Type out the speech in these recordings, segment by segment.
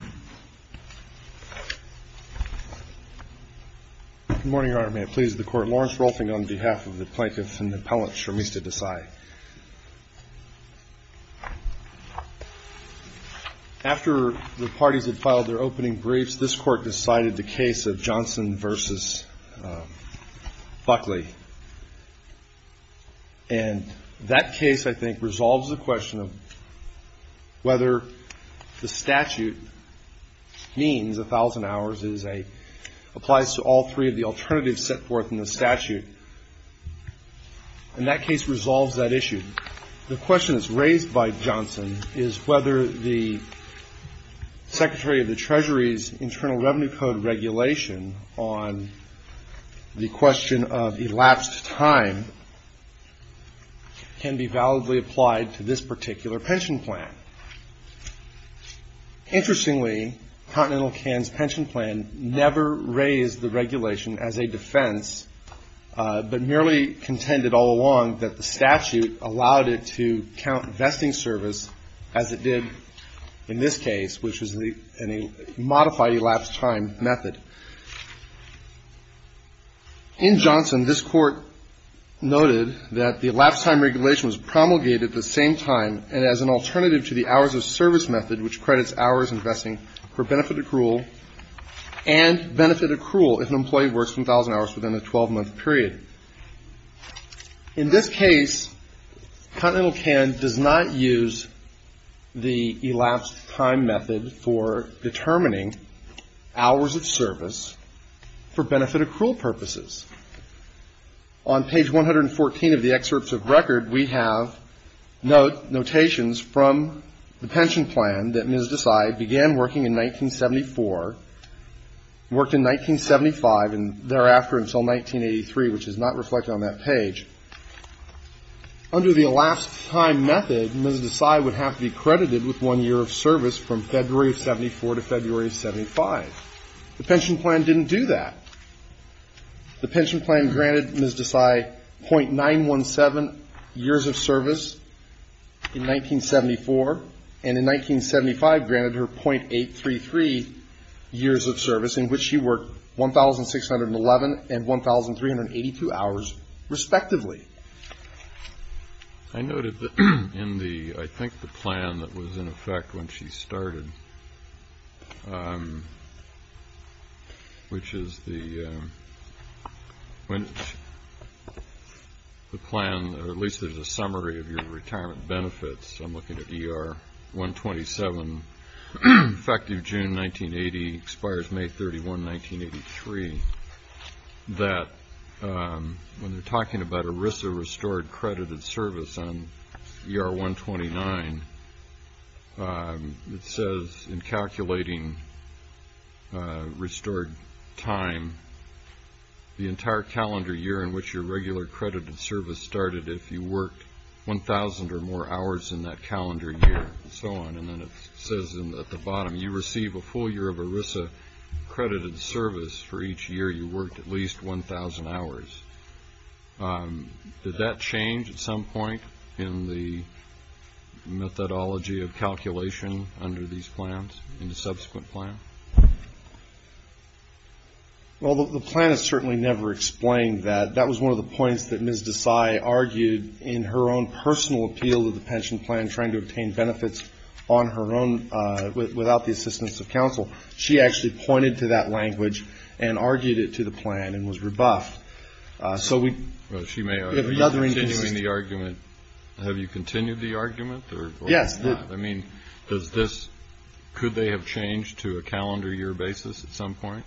Good morning, Your Honor. May it please the Court. Lawrence Rolfing on behalf of the Plaintiffs and Appellants for Mista Desai. After the parties had filed their opening briefs, this Court decided the case of Johnson v. Buckley. And that case, I think, resolves the question of whether the statute means 1,000 hours applies to all three of the alternatives set forth in the statute. And that case resolves that issue. The question that's raised by Johnson is whether the Secretary of the Treasury's Internal Revenue Code regulation on the question of elapsed time can be validly applied to this particular pension plan. Interestingly, Continental Can's pension plan never raised the regulation as a defense, but merely contended all along that the statute allowed it to count vesting service as it did in this case, which is a modified elapsed time method. In Johnson, this Court noted that the elapsed time regulation was promulgated the same time and as an alternative to the hours of service method, which credits hours investing for benefit accrual and benefit accrual if an employee works 1,000 hours within a 12-month period. In this case, Continental Can does not use the elapsed time method for determining hours of service for benefit accrual purposes. On page 114 of the excerpts of record, we have notations from the pension plan that Ms. Desai began working in 1974, worked in 1975, and thereafter until 1983, which is not reflected on that page. Under the elapsed time method, Ms. Desai would have to be credited with one year of service from February of 74 to February of 75. The pension plan didn't do that. The pension plan granted Ms. Desai .917 years of service in 1974, and in 1975, granted her .833 years of service, in which she worked 1,611 and 1,382 hours respectively. I noted in the, I think, the plan that was in effect when she started, which is the plan, or at least there's a summary of your retirement benefits. I'm looking at ER 127. Effective June 1980, expires May 31, 1983, that when they're talking about ERISA restored credited service on ER 129, it says in calculating restored time, the entire calendar year in which your regular credited service started, if you worked 1,000 or more hours in that ERISA credited service for each year, you worked at least 1,000 hours. Did that change at some point in the methodology of calculation under these plans, in the subsequent plan? Well, the plan has certainly never explained that. That was one of the points that Ms. Desai argued in her own personal appeal to the pension plan, trying to obtain benefits on her own, without the assistance of counsel. She actually pointed to that language and argued it to the plan and was rebuffed. So she may argue about continuing the argument. Have you continued the argument? Yes. I mean, could they have changed to a calendar year basis at some point?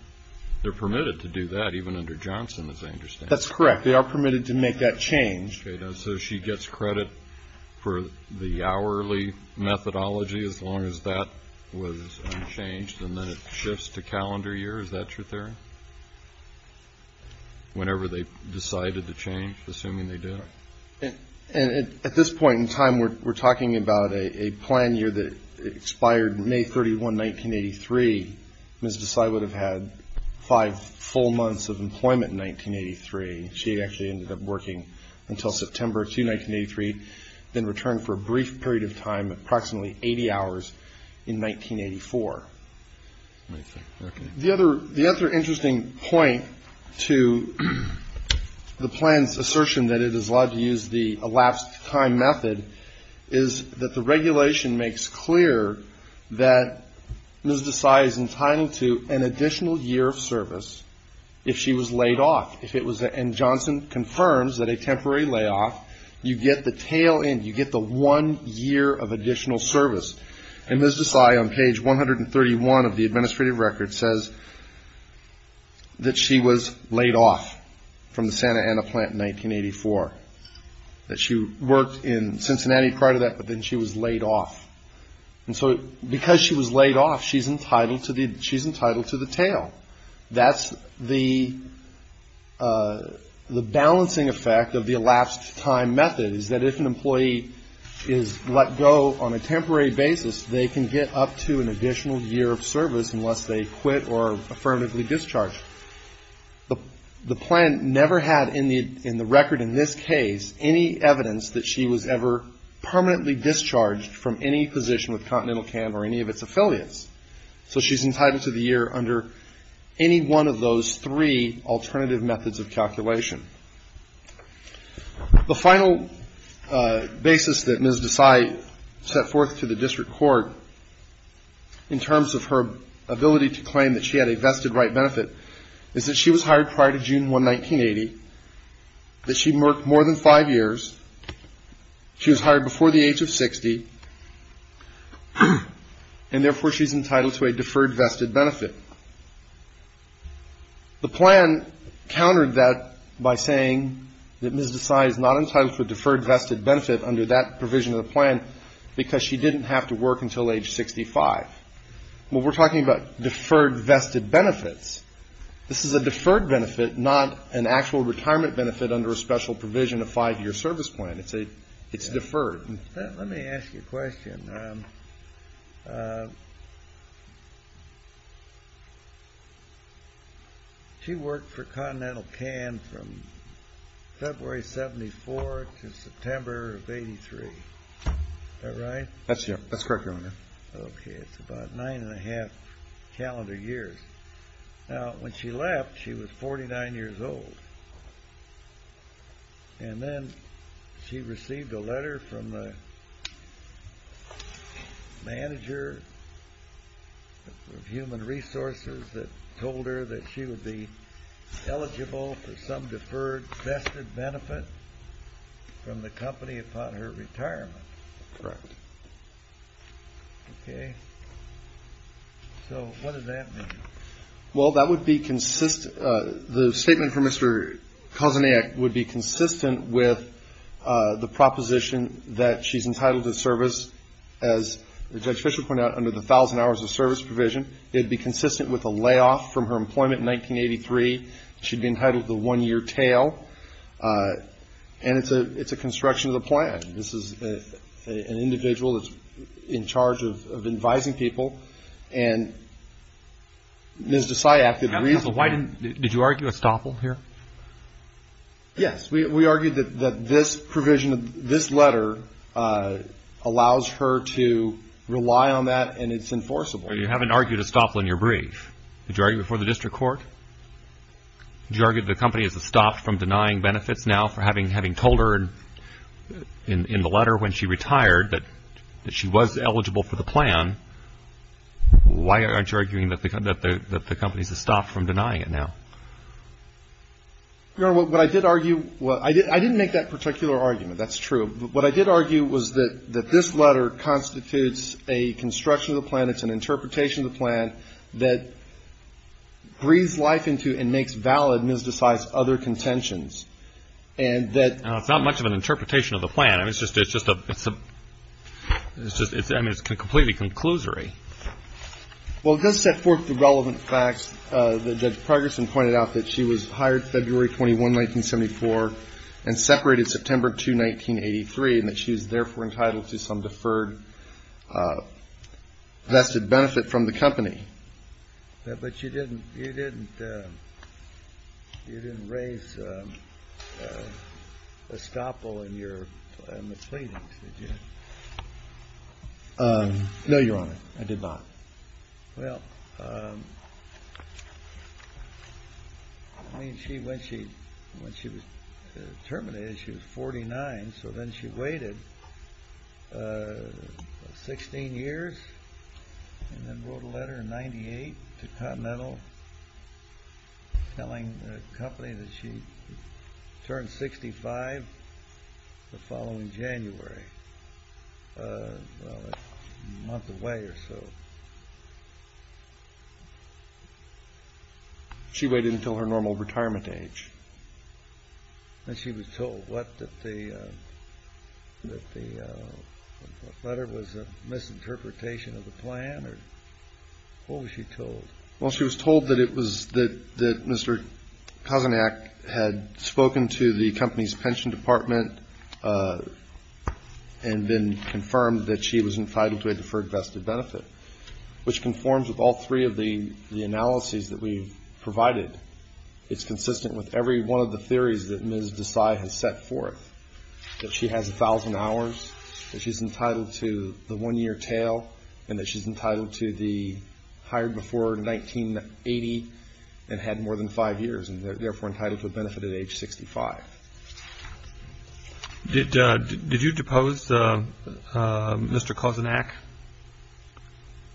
They're permitted to do that, even under Johnson, as I understand. That's correct. They are permitted to make that change. So she gets credit for the hourly methodology, as long as that was unchanged, and then it shifts to calendar year. Is that your theory? Whenever they decided to change, assuming they did? At this point in time, we're talking about a plan year that expired May 31, 1983. Ms. Desai would have had five full months of employment in 1983. She actually ended up working until September 2, 1983, then returned for a brief period of time, approximately 80 hours, in 1984. The other interesting point to the plan's assertion that it is allowed to use the elapsed time method is that the regulation makes clear that Ms. Desai is entitled to an additional year of service if she was laid off. And Johnson confirms that a temporary layoff, you get the tail end, you get the one year of additional service. And Ms. Desai, on page 131 of the administrative record, says that she was laid off from the Santa Ana plant in 1984, that she worked in Cincinnati prior to that, but then she was laid off. And so because she was laid off, she's entitled to the tail. That's the balancing effect of the elapsed time method, is that if an employee is let go on a temporary basis, they can get up to an additional year of service unless they quit or are affirmatively discharged. The plan never had in the record in this case any evidence that she was ever permanently discharged from any position with Continental Camp or any of its affiliates. So she's entitled to the year under any one of those three alternative methods of calculation. The final basis that Ms. Desai set forth to the district court in terms of her ability to claim that she had a vested right benefit is that she was hired prior to June 1, 1980, that she worked more than five years, she was hired before the age of 60, and therefore she's entitled to a deferred vested benefit. The plan countered that by saying that Ms. Desai is not entitled to a deferred vested benefit under that provision of the plan because she didn't have to work until age 65. Well, we're talking about deferred vested benefits. This is a deferred benefit, not an actual retirement benefit under a special provision of five-year service plan. It's deferred. Let me ask you a question. She worked for Continental Camp from February of 1974 to September of 1983. Is that right? That's correct, Your Honor. Okay, it's about nine and a half calendar years. Now, when she left, she was 49 years old. And then she received a letter from the manager of human resources that told her that she would be eligible for some deferred vested benefit from the company upon her retirement. Correct. Okay. So, what does that mean? Well, that would be consistent, the statement from Mr. Kozeniak would be consistent with the proposition that she's entitled to service, as Judge Fischer pointed out, under the 1,000 hours of service provision. It would be consistent with a layoff from her employment in 1983. She'd be entitled to a one-year tail. And it's a construction of the plan. This is an individual that's in charge of advising people. And Ms. Desai acted reasonably. Did you argue a stopple here? Yes, we argued that this provision, this letter, allows her to rely on that and it's enforceable. But you haven't argued a stopple in your brief. Did you argue it before the district court? Did you argue that the company has stopped from denying benefits now for having told her in the letter when she retired that she was eligible for the plan? Why aren't you arguing that the company has stopped from denying it now? Your Honor, what I did argue, I didn't make that particular argument, that's true. What I did argue was that this letter constitutes a construction of the plan, it's an interpretation of the plan that breathes life into and makes valid Ms. Desai's other contentions and that It's not much of an interpretation of the plan. I mean, it's just a, it's a, it's just, I mean, it's completely conclusory. Well, it does set forth the relevant facts that Progerson pointed out, that she was hired February 21, 1974 and separated September 2, 1983, and that she was therefore entitled to some deferred, vested benefit from the company. But you didn't, you didn't, you didn't raise a stopple in your, in the pleadings, did you? No, Your Honor, I did not. Well, I mean, she, when she, when she was terminated, she was 49, so then she waited 16 years and then wrote a letter in 98 to Continental telling the company that she turned 65 the following January, well, a month away or so. She waited until her normal retirement age. And she was told what, that the, that the letter was a misinterpretation of the plan, or what was she told? Well, she was told that it was, that Mr. Kozenak had spoken to the company's pension department and then confirmed that she was entitled to a deferred, vested benefit, which conforms with all three of the analyses that we've provided. It's consistent with every one of the theories that Ms. Desai has set forth, that she has a thousand hours, that she's entitled to the one-year tail, and that she's entitled to the hired before 1980 and had more than five years and therefore entitled to a benefit at age 65. Did, did you depose Mr. Kozenak?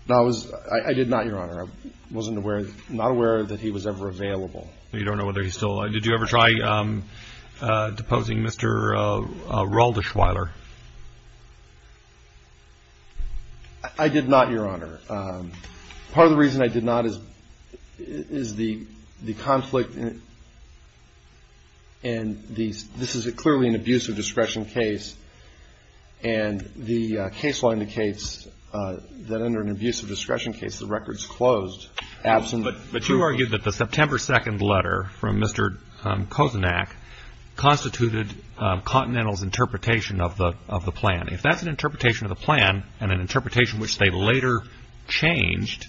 No, I was, I did not, Your Honor. I wasn't aware, not aware that he was ever available. You don't know whether he's still alive? Did you ever try deposing Mr. Roldeschweiler? I did not, Your Honor. Part of the reason I did not is, is the, the conflict in, in these, this is clearly an abuse of discretion case, and the case law indicates that under an abuse of discretion case, the record's closed. Absolutely. But you argued that the September 2nd letter from Mr. Kozenak constituted Continental's interpretation of the, of the plan. If that's an interpretation of the plan and an interpretation which they later changed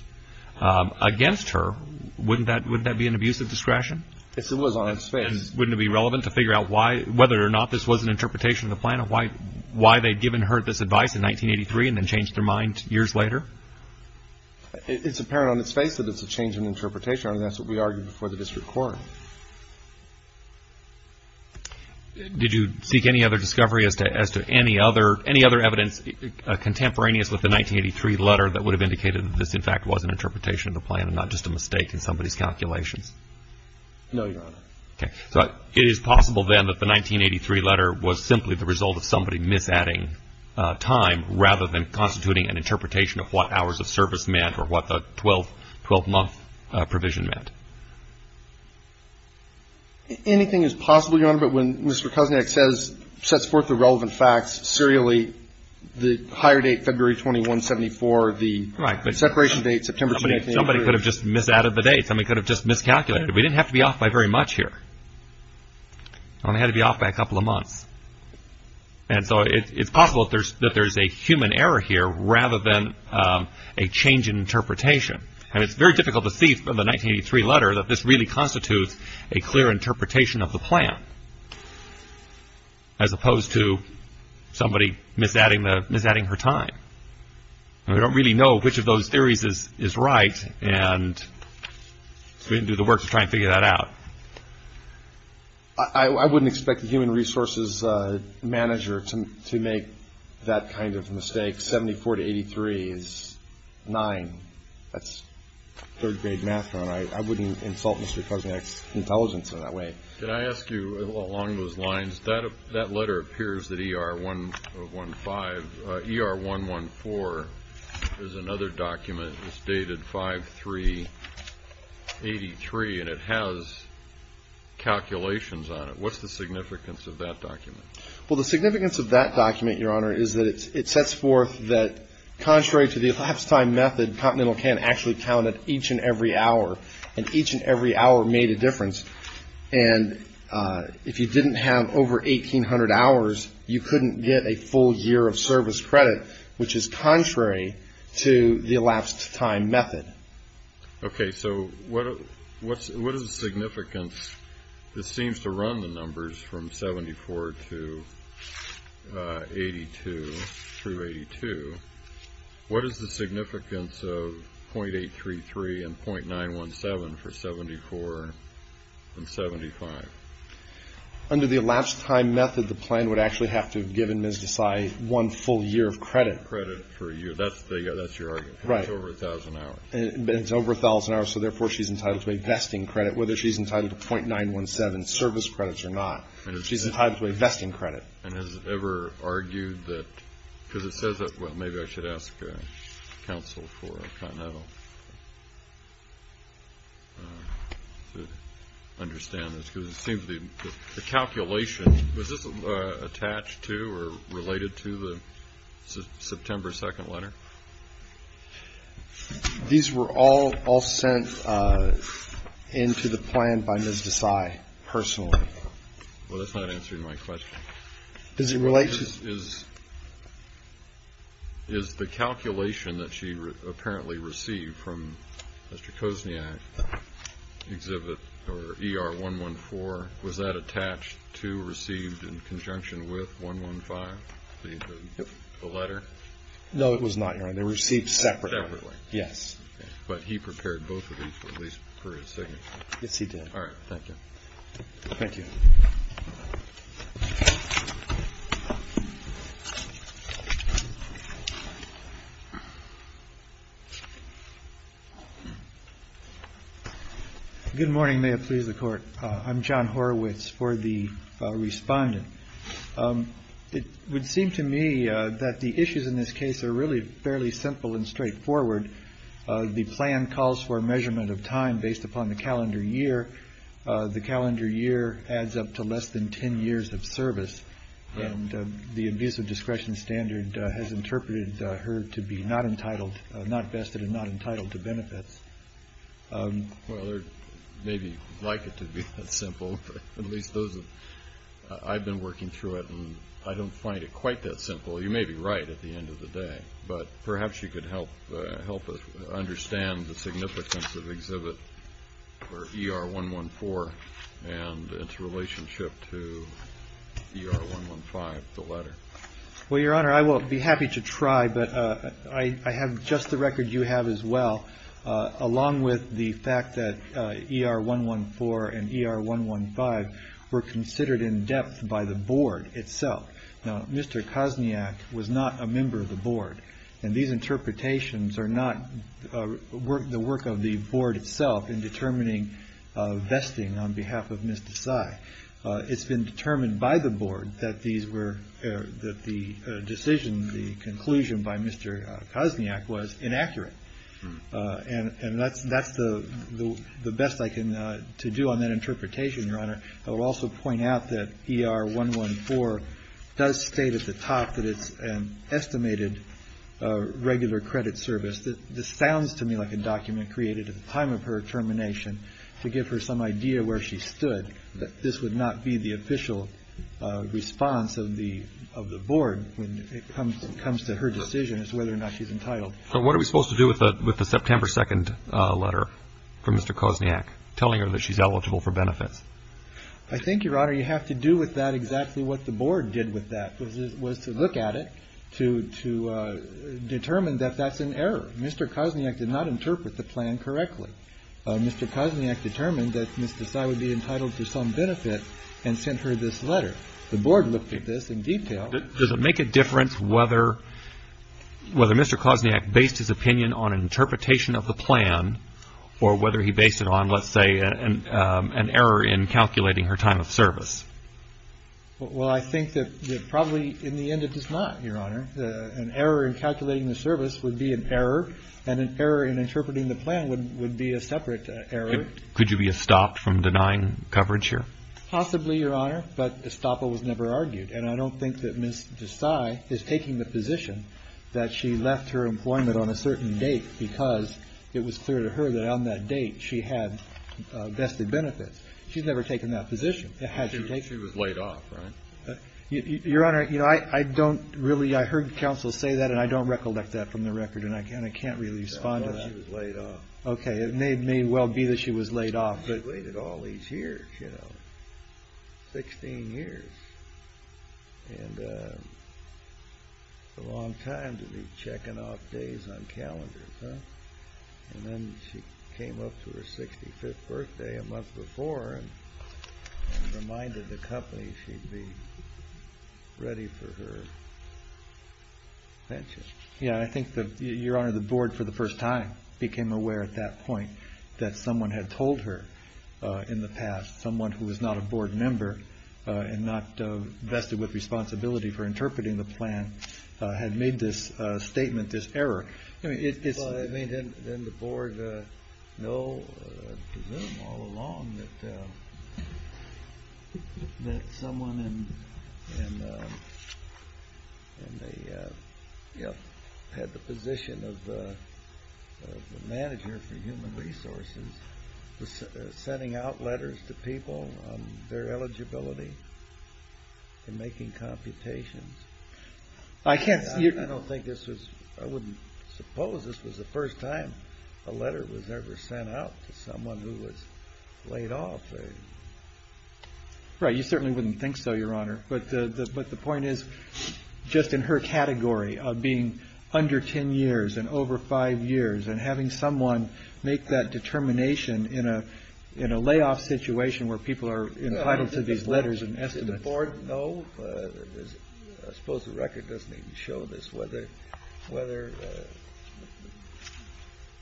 against her, wouldn't that, wouldn't that be an abuse of discretion? Yes, it was on its face. And wouldn't it be relevant to figure out why, whether or not this was an interpretation of the plan of why, why they'd given her this advice in 1983 and then changed their mind years later? It's apparent on its face that it's a change in interpretation, and that's what we argued before the district court. Did you seek any other discovery as to, as to any other, any other evidence contemporaneous with the 1983 letter that would have indicated that this in fact was an interpretation of the plan and not just a mistake in somebody's calculations? No, Your Honor. Okay. So it is possible then that the 1983 letter was simply the result of somebody mis-adding time rather than constituting an interpretation of what hours of service meant or what the 12, 12-month provision meant. Anything is possible, Your Honor, but when Mr. Kozniak says, sets forth the relevant facts serially, the higher date, February 21, 74, the separation date, September 28, 1983. Somebody could have just mis-added the date. Somebody could have just mis-calculated. We didn't have to be off by very much here. We only had to be off by a couple of months. And so it's possible that there's a human error here rather than a change in interpretation. And it's very difficult to see from the 1983 letter that this really constitutes a clear interpretation of the plan as opposed to somebody mis-adding the, mis-adding her time. And we don't really know which of those theories is right and we didn't do the work to try and figure that out. I wouldn't expect the human resources manager to make that kind of mistake. 74 to 83 is 9. That's third grade math, Your Honor. I wouldn't insult Mr. Kozniak's intelligence in that way. Can I ask you, along those lines, that letter appears that ER 115, ER 114 is another document that's dated 5-3-83 and it has calculations on it. What's the significance of that document? Well, the significance of that document, Your Honor, is that it sets forth that contrary to the elapsed time method, Continental can actually count at each and every hour. And each and every hour made a difference. And if you didn't have over 1,800 hours, you couldn't get a full year of service credit, which is contrary to the elapsed time method. Okay, so what is the significance? This seems to run the numbers from 74 to 82 through 82. What is the significance of .833 and .917 for 74 and 75? Under the elapsed time method, the plan would actually have to have given Ms. Desai one full year of credit. Credit for a year. That's your argument. Right. But it's over 1,000 hours. But it's over 1,000 hours, so therefore she's entitled to a vesting credit, whether she's entitled to .917 service credits or not. She's entitled to a vesting credit. And has it ever argued that, because it says that, well, maybe I should ask counsel for Continental to understand this, because it seems the calculation, was this attached to or related to the September 2nd letter? These were all sent into the plan by Ms. Desai personally. Well, that's not answering my question. Does it relate to? Is the calculation that she apparently received from Mr. Kozniak's exhibit or ER 114, was that attached to received in conjunction with 115, the letter? No, it was not, Your Honor. They were received separately. Separately. Yes. But he prepared both of these, at least for his signature. Yes, he did. All right. Thank you. Thank you. Good morning. May it please the Court. I'm John Horowitz for the respondent. It would seem to me that the issues in this case are really fairly simple and straightforward. The plan calls for a measurement of time based upon the calendar year. The calendar year adds up to less than 10 years of service. And the abuse of discretion standard has interpreted her to be not entitled, not vested, and not entitled to benefits. Well, there may be like it to be that simple. At least those of, I've been working through it and I don't find it quite that simple. You may be right at the end of the day. But perhaps you could help us understand the significance of the exhibit for ER 114 and its relationship to ER 115, the letter. Well, Your Honor, I will be happy to try. But I have just the record you have as well, along with the fact that ER 114 and ER 115 were considered in depth by the Board itself. Now, Mr. Kozniak was not a member of the Board. And these interpretations are not the work of the Board itself in determining vesting on behalf of Ms. Desai. It's been determined by the Board that the decision, the conclusion by Mr. Kozniak was inaccurate. And that's the best I can do on that interpretation, Your Honor. I will also point out that ER 114 does state at the top that it's an estimated regular credit service. This sounds to me like a document created at the time of her termination to give her some idea where she stood. This would not be the official response of the Board when it comes to her decision as to whether or not she's entitled. But what are we supposed to do with the September 2nd letter from Mr. Kozniak, telling her that she's eligible for benefits? I think, Your Honor, you have to do with that exactly what the Board did with that, was to look at it to determine that that's an error. Mr. Kozniak did not interpret the plan correctly. Mr. Kozniak determined that Ms. Desai would be entitled to some benefit The Board looked at this in detail. Does it make a difference whether Mr. Kozniak based his opinion on interpretation of the plan or whether he based it on, let's say, an error in calculating her time of service? Well, I think that probably, in the end, it does not, Your Honor. An error in calculating the service would be an error, and an error in interpreting the plan would be a separate error. Could you be stopped from denying coverage here? Possibly, Your Honor, but Estoppa was never argued. And I don't think that Ms. Desai is taking the position that she left her employment on a certain date because it was clear to her that on that date she had vested benefits. She's never taken that position, had she taken it. She was laid off, right? Your Honor, I don't really, I heard counsel say that, and I don't recollect that from the record, and I can't really respond to that. No, she was laid off. Okay, it may well be that she was laid off. She waited all these years, you know, 16 years. And a long time to be checking off days on calendars, huh? And then she came up to her 65th birthday a month before and reminded the company she'd be ready for her pension. Yeah, I think that, Your Honor, the board, for the first time, became aware at that point that someone had told her in the past, someone who was not a board member and not vested with responsibility for interpreting the plan, had made this statement, this error. I mean, didn't the board know, I presume, all along, that someone had the position of the manager for human resources sending out letters to people on their eligibility and making computations? I don't think this was, I wouldn't suppose this was the first time a letter was ever sent out to someone who was laid off. Right, you certainly wouldn't think so, Your Honor. But the point is, just in her category of being under 10 years and over 5 years and having someone make that determination in a layoff situation where people are entitled to these letters and estimates. Did the board know, I suppose the record doesn't even show this, whether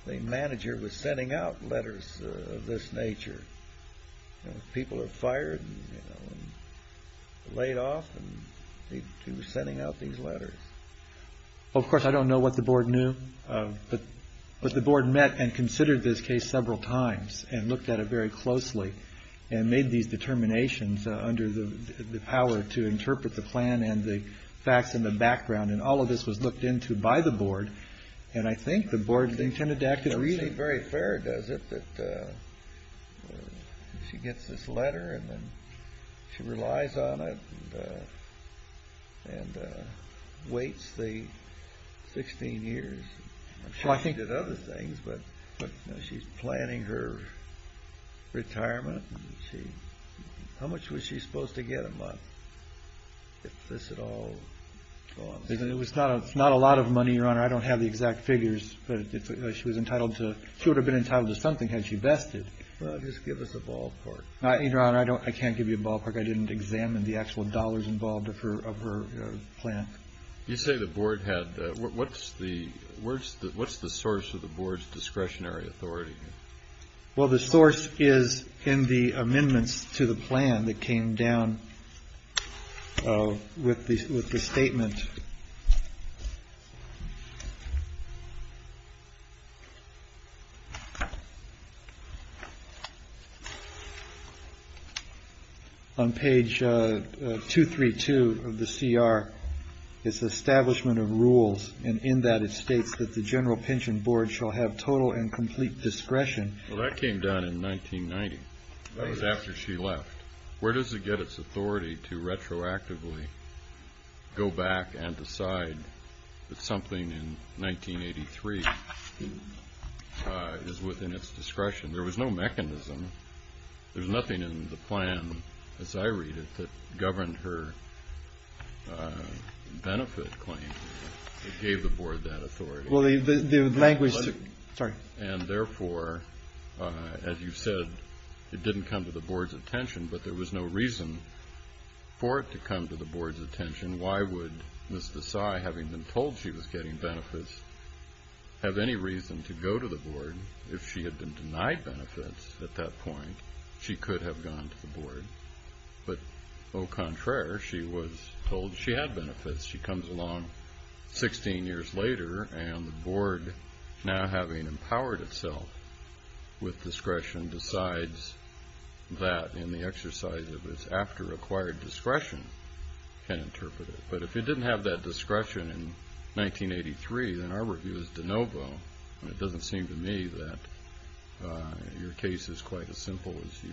the manager was sending out letters of this nature? People are fired and laid off and he was sending out these letters. Of course, I don't know what the board knew. But the board met and considered this case several times and looked at it very closely and made these determinations under the power to interpret the plan and the facts in the background. And all of this was looked into by the board. And I think the board intended to act in a reasonable way. It doesn't seem very fair, does it, that she gets this letter and then she relies on it and waits the 16 years. I'm sure she did other things, but she's planning her retirement. How much was she supposed to get a month, if this at all goes? It's not a lot of money, Your Honor. I don't have the exact figures. She would have been entitled to something had she vested. Well, just give us a ballpark. Your Honor, I can't give you a ballpark. I didn't examine the actual dollars involved of her plan. You say the board had... What's the source of the board's discretionary authority? Well, the source is in the amendments to the plan that came down with the statement. On page 232 of the CR, it's the establishment of rules. And in that, it states that the general pension board shall have total and complete discretion. Well, that came down in 1990. That was after she left. Where does it get its authority to retroactively go back and decide that something in 1983 is within its discretion? There was no mechanism. There's nothing in the plan, as I read it, that governed her benefit claim. It gave the board that authority. Well, the language... Sorry. And therefore, as you said, it didn't come to the board's attention. But there was no reason for it to come to the board's attention. Why would Ms. Desai, having been told she was getting benefits, have any reason to go to the board if she had been denied benefits at that point? She could have gone to the board. But au contraire, she was told she had benefits. She comes along 16 years later, and the board, now having empowered itself with discretion, decides that in the exercise of its after-acquired discretion can interpret it. But if it didn't have that discretion in 1983, then our review is de novo. It doesn't seem to me that your case is quite as simple as you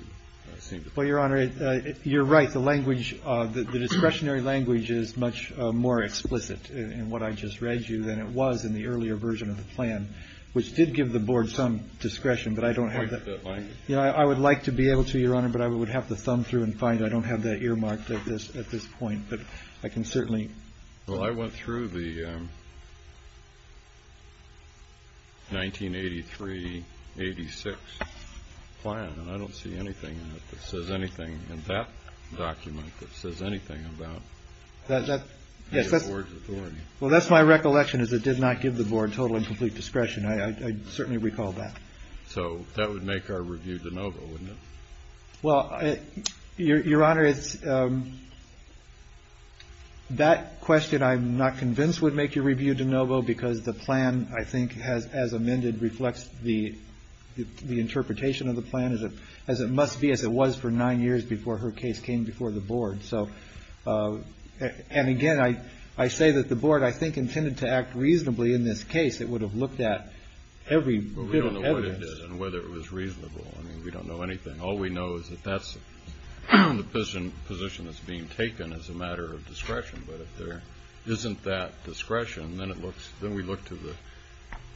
seem to think. Well, Your Honor, you're right. The language, the discretionary language, is much more explicit in what I just read you than it was in the earlier version of the plan, which did give the board some discretion, but I don't have that... You don't like that language? I would like to be able to, Your Honor, but I would have to thumb through and find it. I don't have that earmarked at this point, but I can certainly... Well, I went through the 1983-86 plan, and I don't see anything in it that says anything, in that document, that says anything about the board's authority. Well, that's my recollection, is it did not give the board total and complete discretion. I certainly recall that. So that would make our review de novo, wouldn't it? Well, Your Honor, that question I'm not convinced would make your review de novo, because the plan, I think, as amended, reflects the interpretation of the plan as it must be, as it was for nine years before her case came before the board. And again, I say that the board, I think, intended to act reasonably in this case. It would have looked at every bit of evidence. We don't know what it did and whether it was reasonable. We don't know anything. All we know is that that's the position that's being taken as a matter of discretion. But if there isn't that discretion, then we look to the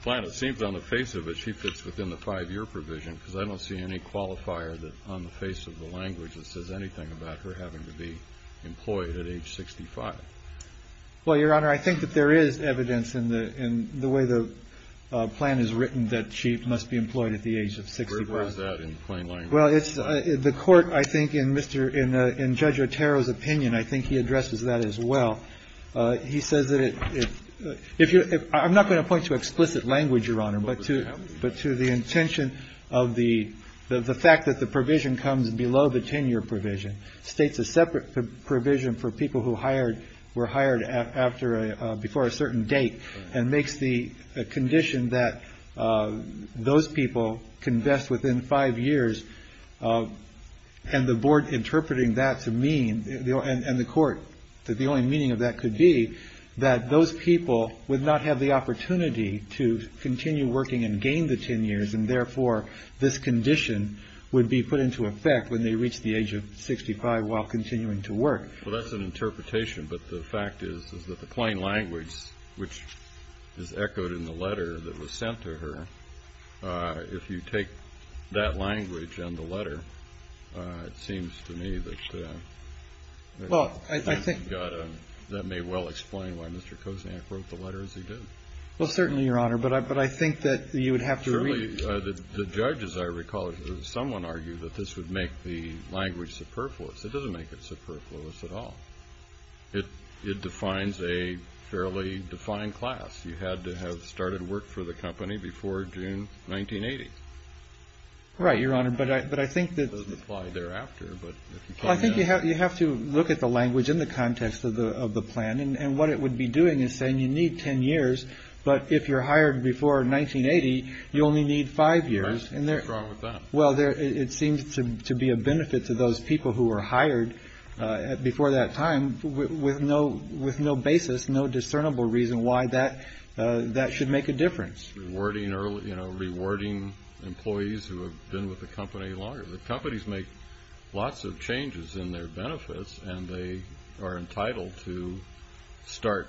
plan. It seems on the face of it, she fits within the five-year provision, because I don't see any qualifier on the face of the language that says anything about her having to be employed at age 65. Well, Your Honor, I think that there is evidence in the way the plan is written that she must be employed at the age of 65. Where is that in plain language? Well, it's the court, I think, in Judge Otero's opinion, I think he addresses that as well. He says that if... I'm not going to point to explicit language, Your Honor, but to the intention of the fact that the provision comes below the 10-year provision, states a separate provision for people who were hired before a certain date, and makes the condition that those people can vest within five years, and the board interpreting that to mean, and the court, that the only meaning of that could be that those people would not have the opportunity to continue working and gain the 10 years, and therefore this condition would be put into effect when they reach the age of 65 while continuing to work. Well, that's an interpretation, but the fact is that the plain language, which is echoed in the letter that was sent to her, if you take that language and the letter, it seems to me that... Well, I think... ...that may well explain why Mr. Kosiak wrote the letter as he did. Well, certainly, Your Honor, but I think that you would have to... Surely, the judges, I recall, someone argued that this would make the language superfluous. It doesn't make it superfluous at all. It defines a fairly defined class. You had to have started work for the company before June 1980. Right, Your Honor, but I think that... It doesn't apply thereafter, but... I think you have to look at the language in the context of the plan, and what it would be doing is saying you need 10 years, but if you're hired before 1980, you only need 5 years, and there... What's wrong with that? Well, it seems to be a benefit to those people who were hired before that time with no basis, no discernible reason why that should make a difference. Rewarding early... You know, rewarding employees who have been with the company longer. The companies make lots of changes in their benefits, and they are entitled to start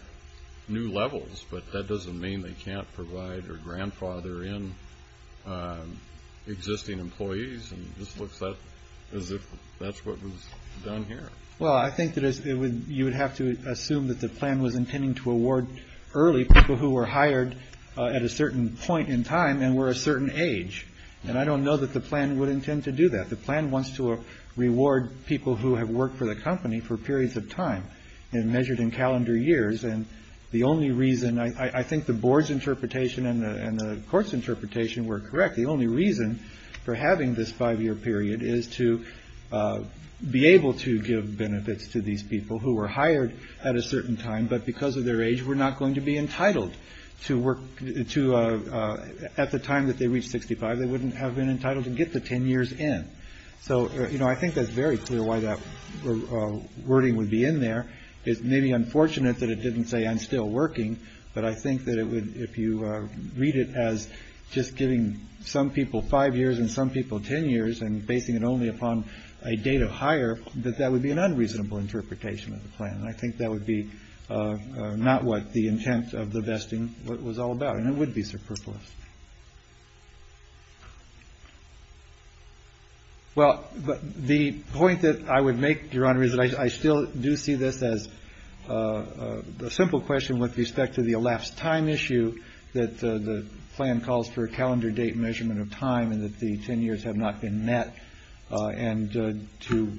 new levels, but that doesn't mean they can't provide or grandfather in existing employees, and this looks as if that's what was done here. Well, I think that you would have to assume that the plan was intending to award early people who were hired at a certain point in time and were a certain age, and I don't know that the plan would intend to do that. The plan wants to reward people who have worked for the company for periods of time, and measured in calendar years, and the only reason... I think the board's interpretation and the court's interpretation were correct. The only reason for having this 5-year period is to be able to give benefits to these people who were hired at a certain time, but because of their age, were not going to be entitled to work... At the time that they reached 65, they wouldn't have been entitled to get the 10 years in. So, you know, I think that's very clear why that wording would be in there. It's maybe unfortunate that it didn't say, I'm still working, but I think that if you read it as just giving some people 5 years and some people 10 years, and basing it only upon a date of hire, that that would be an unreasonable interpretation of the plan, and I think that would be not what the intent of the vesting was all about, and it would be superfluous. Well, the point that I would make, Your Honor, is that I still do see this as a simple question with respect to the elapsed time issue that the plan calls for a calendar date measurement of time, and that the 10 years have not been met, and to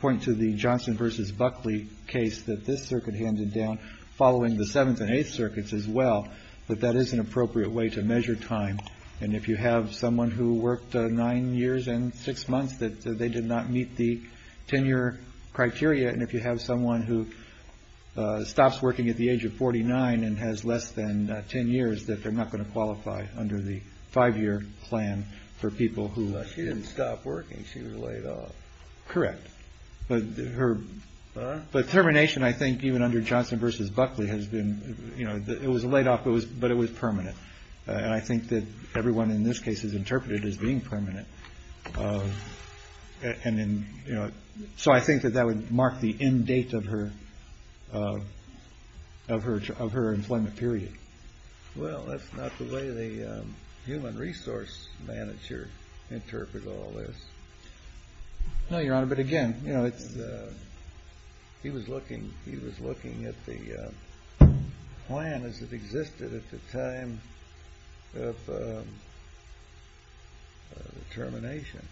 point to the Johnson v. Buckley case, that this circuit handed down, following the 7th and 8th circuits as well, that that is an appropriate way to measure time, and if you have someone who worked 9 years and 6 months, that they did not meet the 10-year criteria, and if you have someone who stops working at the age of 49 and has less than 10 years, that they're not going to qualify under the 5-year plan for people who... She didn't stop working. She was laid off. Correct. But her... Huh? But termination, I think, even under Johnson v. Buckley, has been... You know, it was a laid off, but it was permanent, and I think that everyone in this case has interpreted it as being permanent, and then, you know... So I think that that would mark the end date of her employment period. Well, that's not the way the human resource manager interprets all this. No, Your Honor, but again, you know, it's... He was looking at the plan as it existed at the time of termination.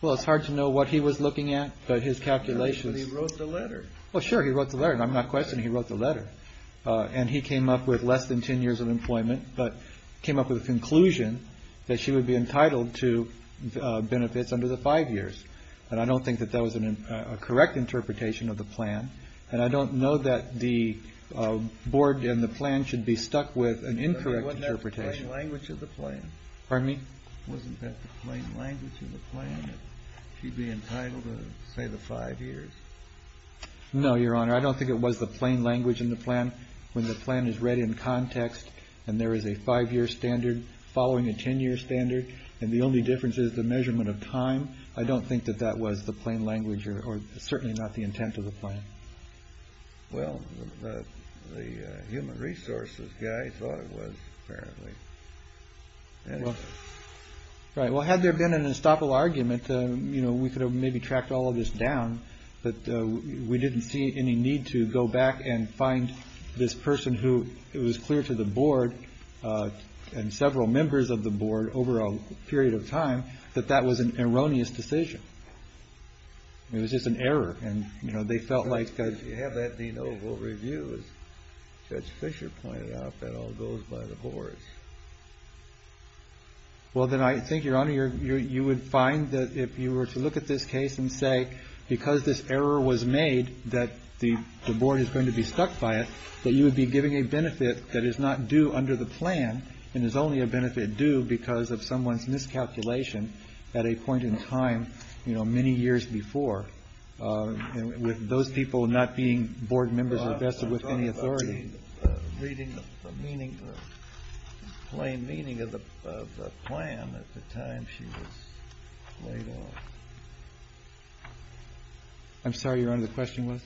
Well, it's hard to know what he was looking at, but his calculations... But he wrote the letter. Well, sure, he wrote the letter, and I'm not questioning he wrote the letter. And he came up with less than 10 years of employment, but came up with a conclusion that she would be entitled to benefits under the 5 years. And I don't think that that was a correct interpretation of the plan, and I don't know that the board and the plan should be stuck with an incorrect interpretation. Wasn't that the plain language of the plan? Pardon me? Wasn't that the plain language of the plan, that she'd be entitled to, say, the 5 years? No, Your Honor, I don't think it was the plain language in the plan. When the plan is read in context, and there is a 5-year standard following a 10-year standard, and the only difference is the measurement of time, I don't think that that was the plain language, or certainly not the intent of the plan. Well, the human resources guy thought it was, apparently. Right, well, had there been an estoppel argument, you know, we could have maybe tracked all of this down, but we didn't see any need to go back and find this person who was clear to the board, and several members of the board, over a period of time, that that was an erroneous decision. It was just an error, and, you know, they felt like... You have that de novo review, as Judge Fischer pointed out, that all goes by the boards. Well, then, I think, Your Honor, you would find that if you were to look at this case, and say, because this error was made, that the board is going to be stuck by it, that you would be giving a benefit that is not due under the plan, and is only a benefit due because of someone's miscalculation at a point in time, you know, many years before, with those people not being board members as vested with any authority. Reading the plain meaning of the plan at the time she was laid off. I'm sorry, Your Honor, the question was?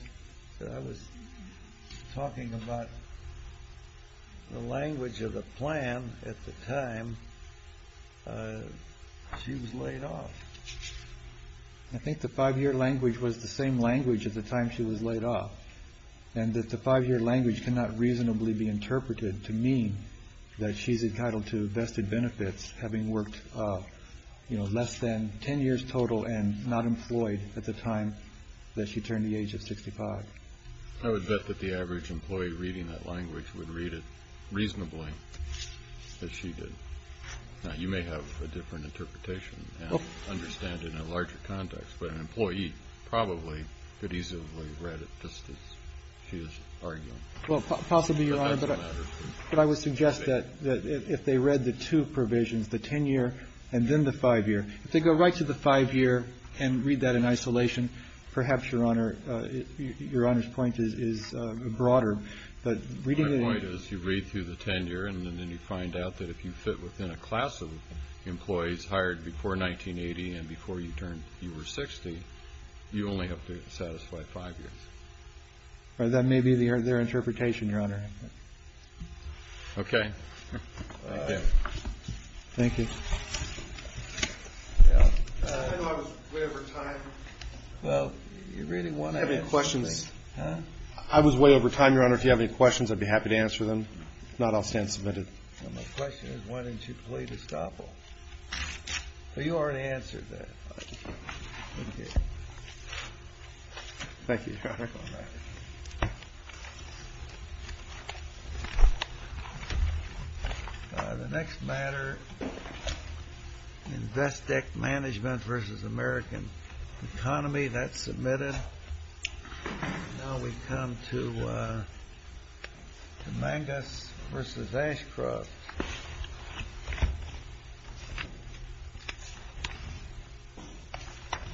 I was talking about the language of the plan at the time she was laid off. I think the five-year language was the same language at the time she was laid off, and that the five-year language cannot reasonably be interpreted to mean that she's entitled to vested benefits, having worked, you know, less than ten years total, and not employed at the time that she turned the age of 65. I would bet that the average employee reading that language would read it reasonably as she did. Now, you may have a different interpretation and understand it in a larger context, but an employee probably could easily read it just as she is arguing. Possibly, Your Honor, but I would suggest that if they read the two provisions, the ten-year and then the five-year, if they go right to the five-year and read that in isolation, perhaps, Your Honor, Your Honor's point is broader. My point is you read through the ten-year and then you find out that if you fit within a class of employees hired before 1980 and before you were 60, you only have to satisfy five years. That may be their interpretation, Your Honor. Okay. Thank you. Yeah. I know I was way over time. Well, you really want to answer me? Do you have any questions? Huh? I was way over time, Your Honor. If you have any questions, I'd be happy to answer them. If not, I'll stand submitted. Well, my question is why didn't you plead estoppel? Well, you already answered that. Okay. Thank you, Your Honor. Thank you, Your Honor. The next matter, Investec Management v. American Economy. That's submitted. Now we come to Mangus v. Ashcroft.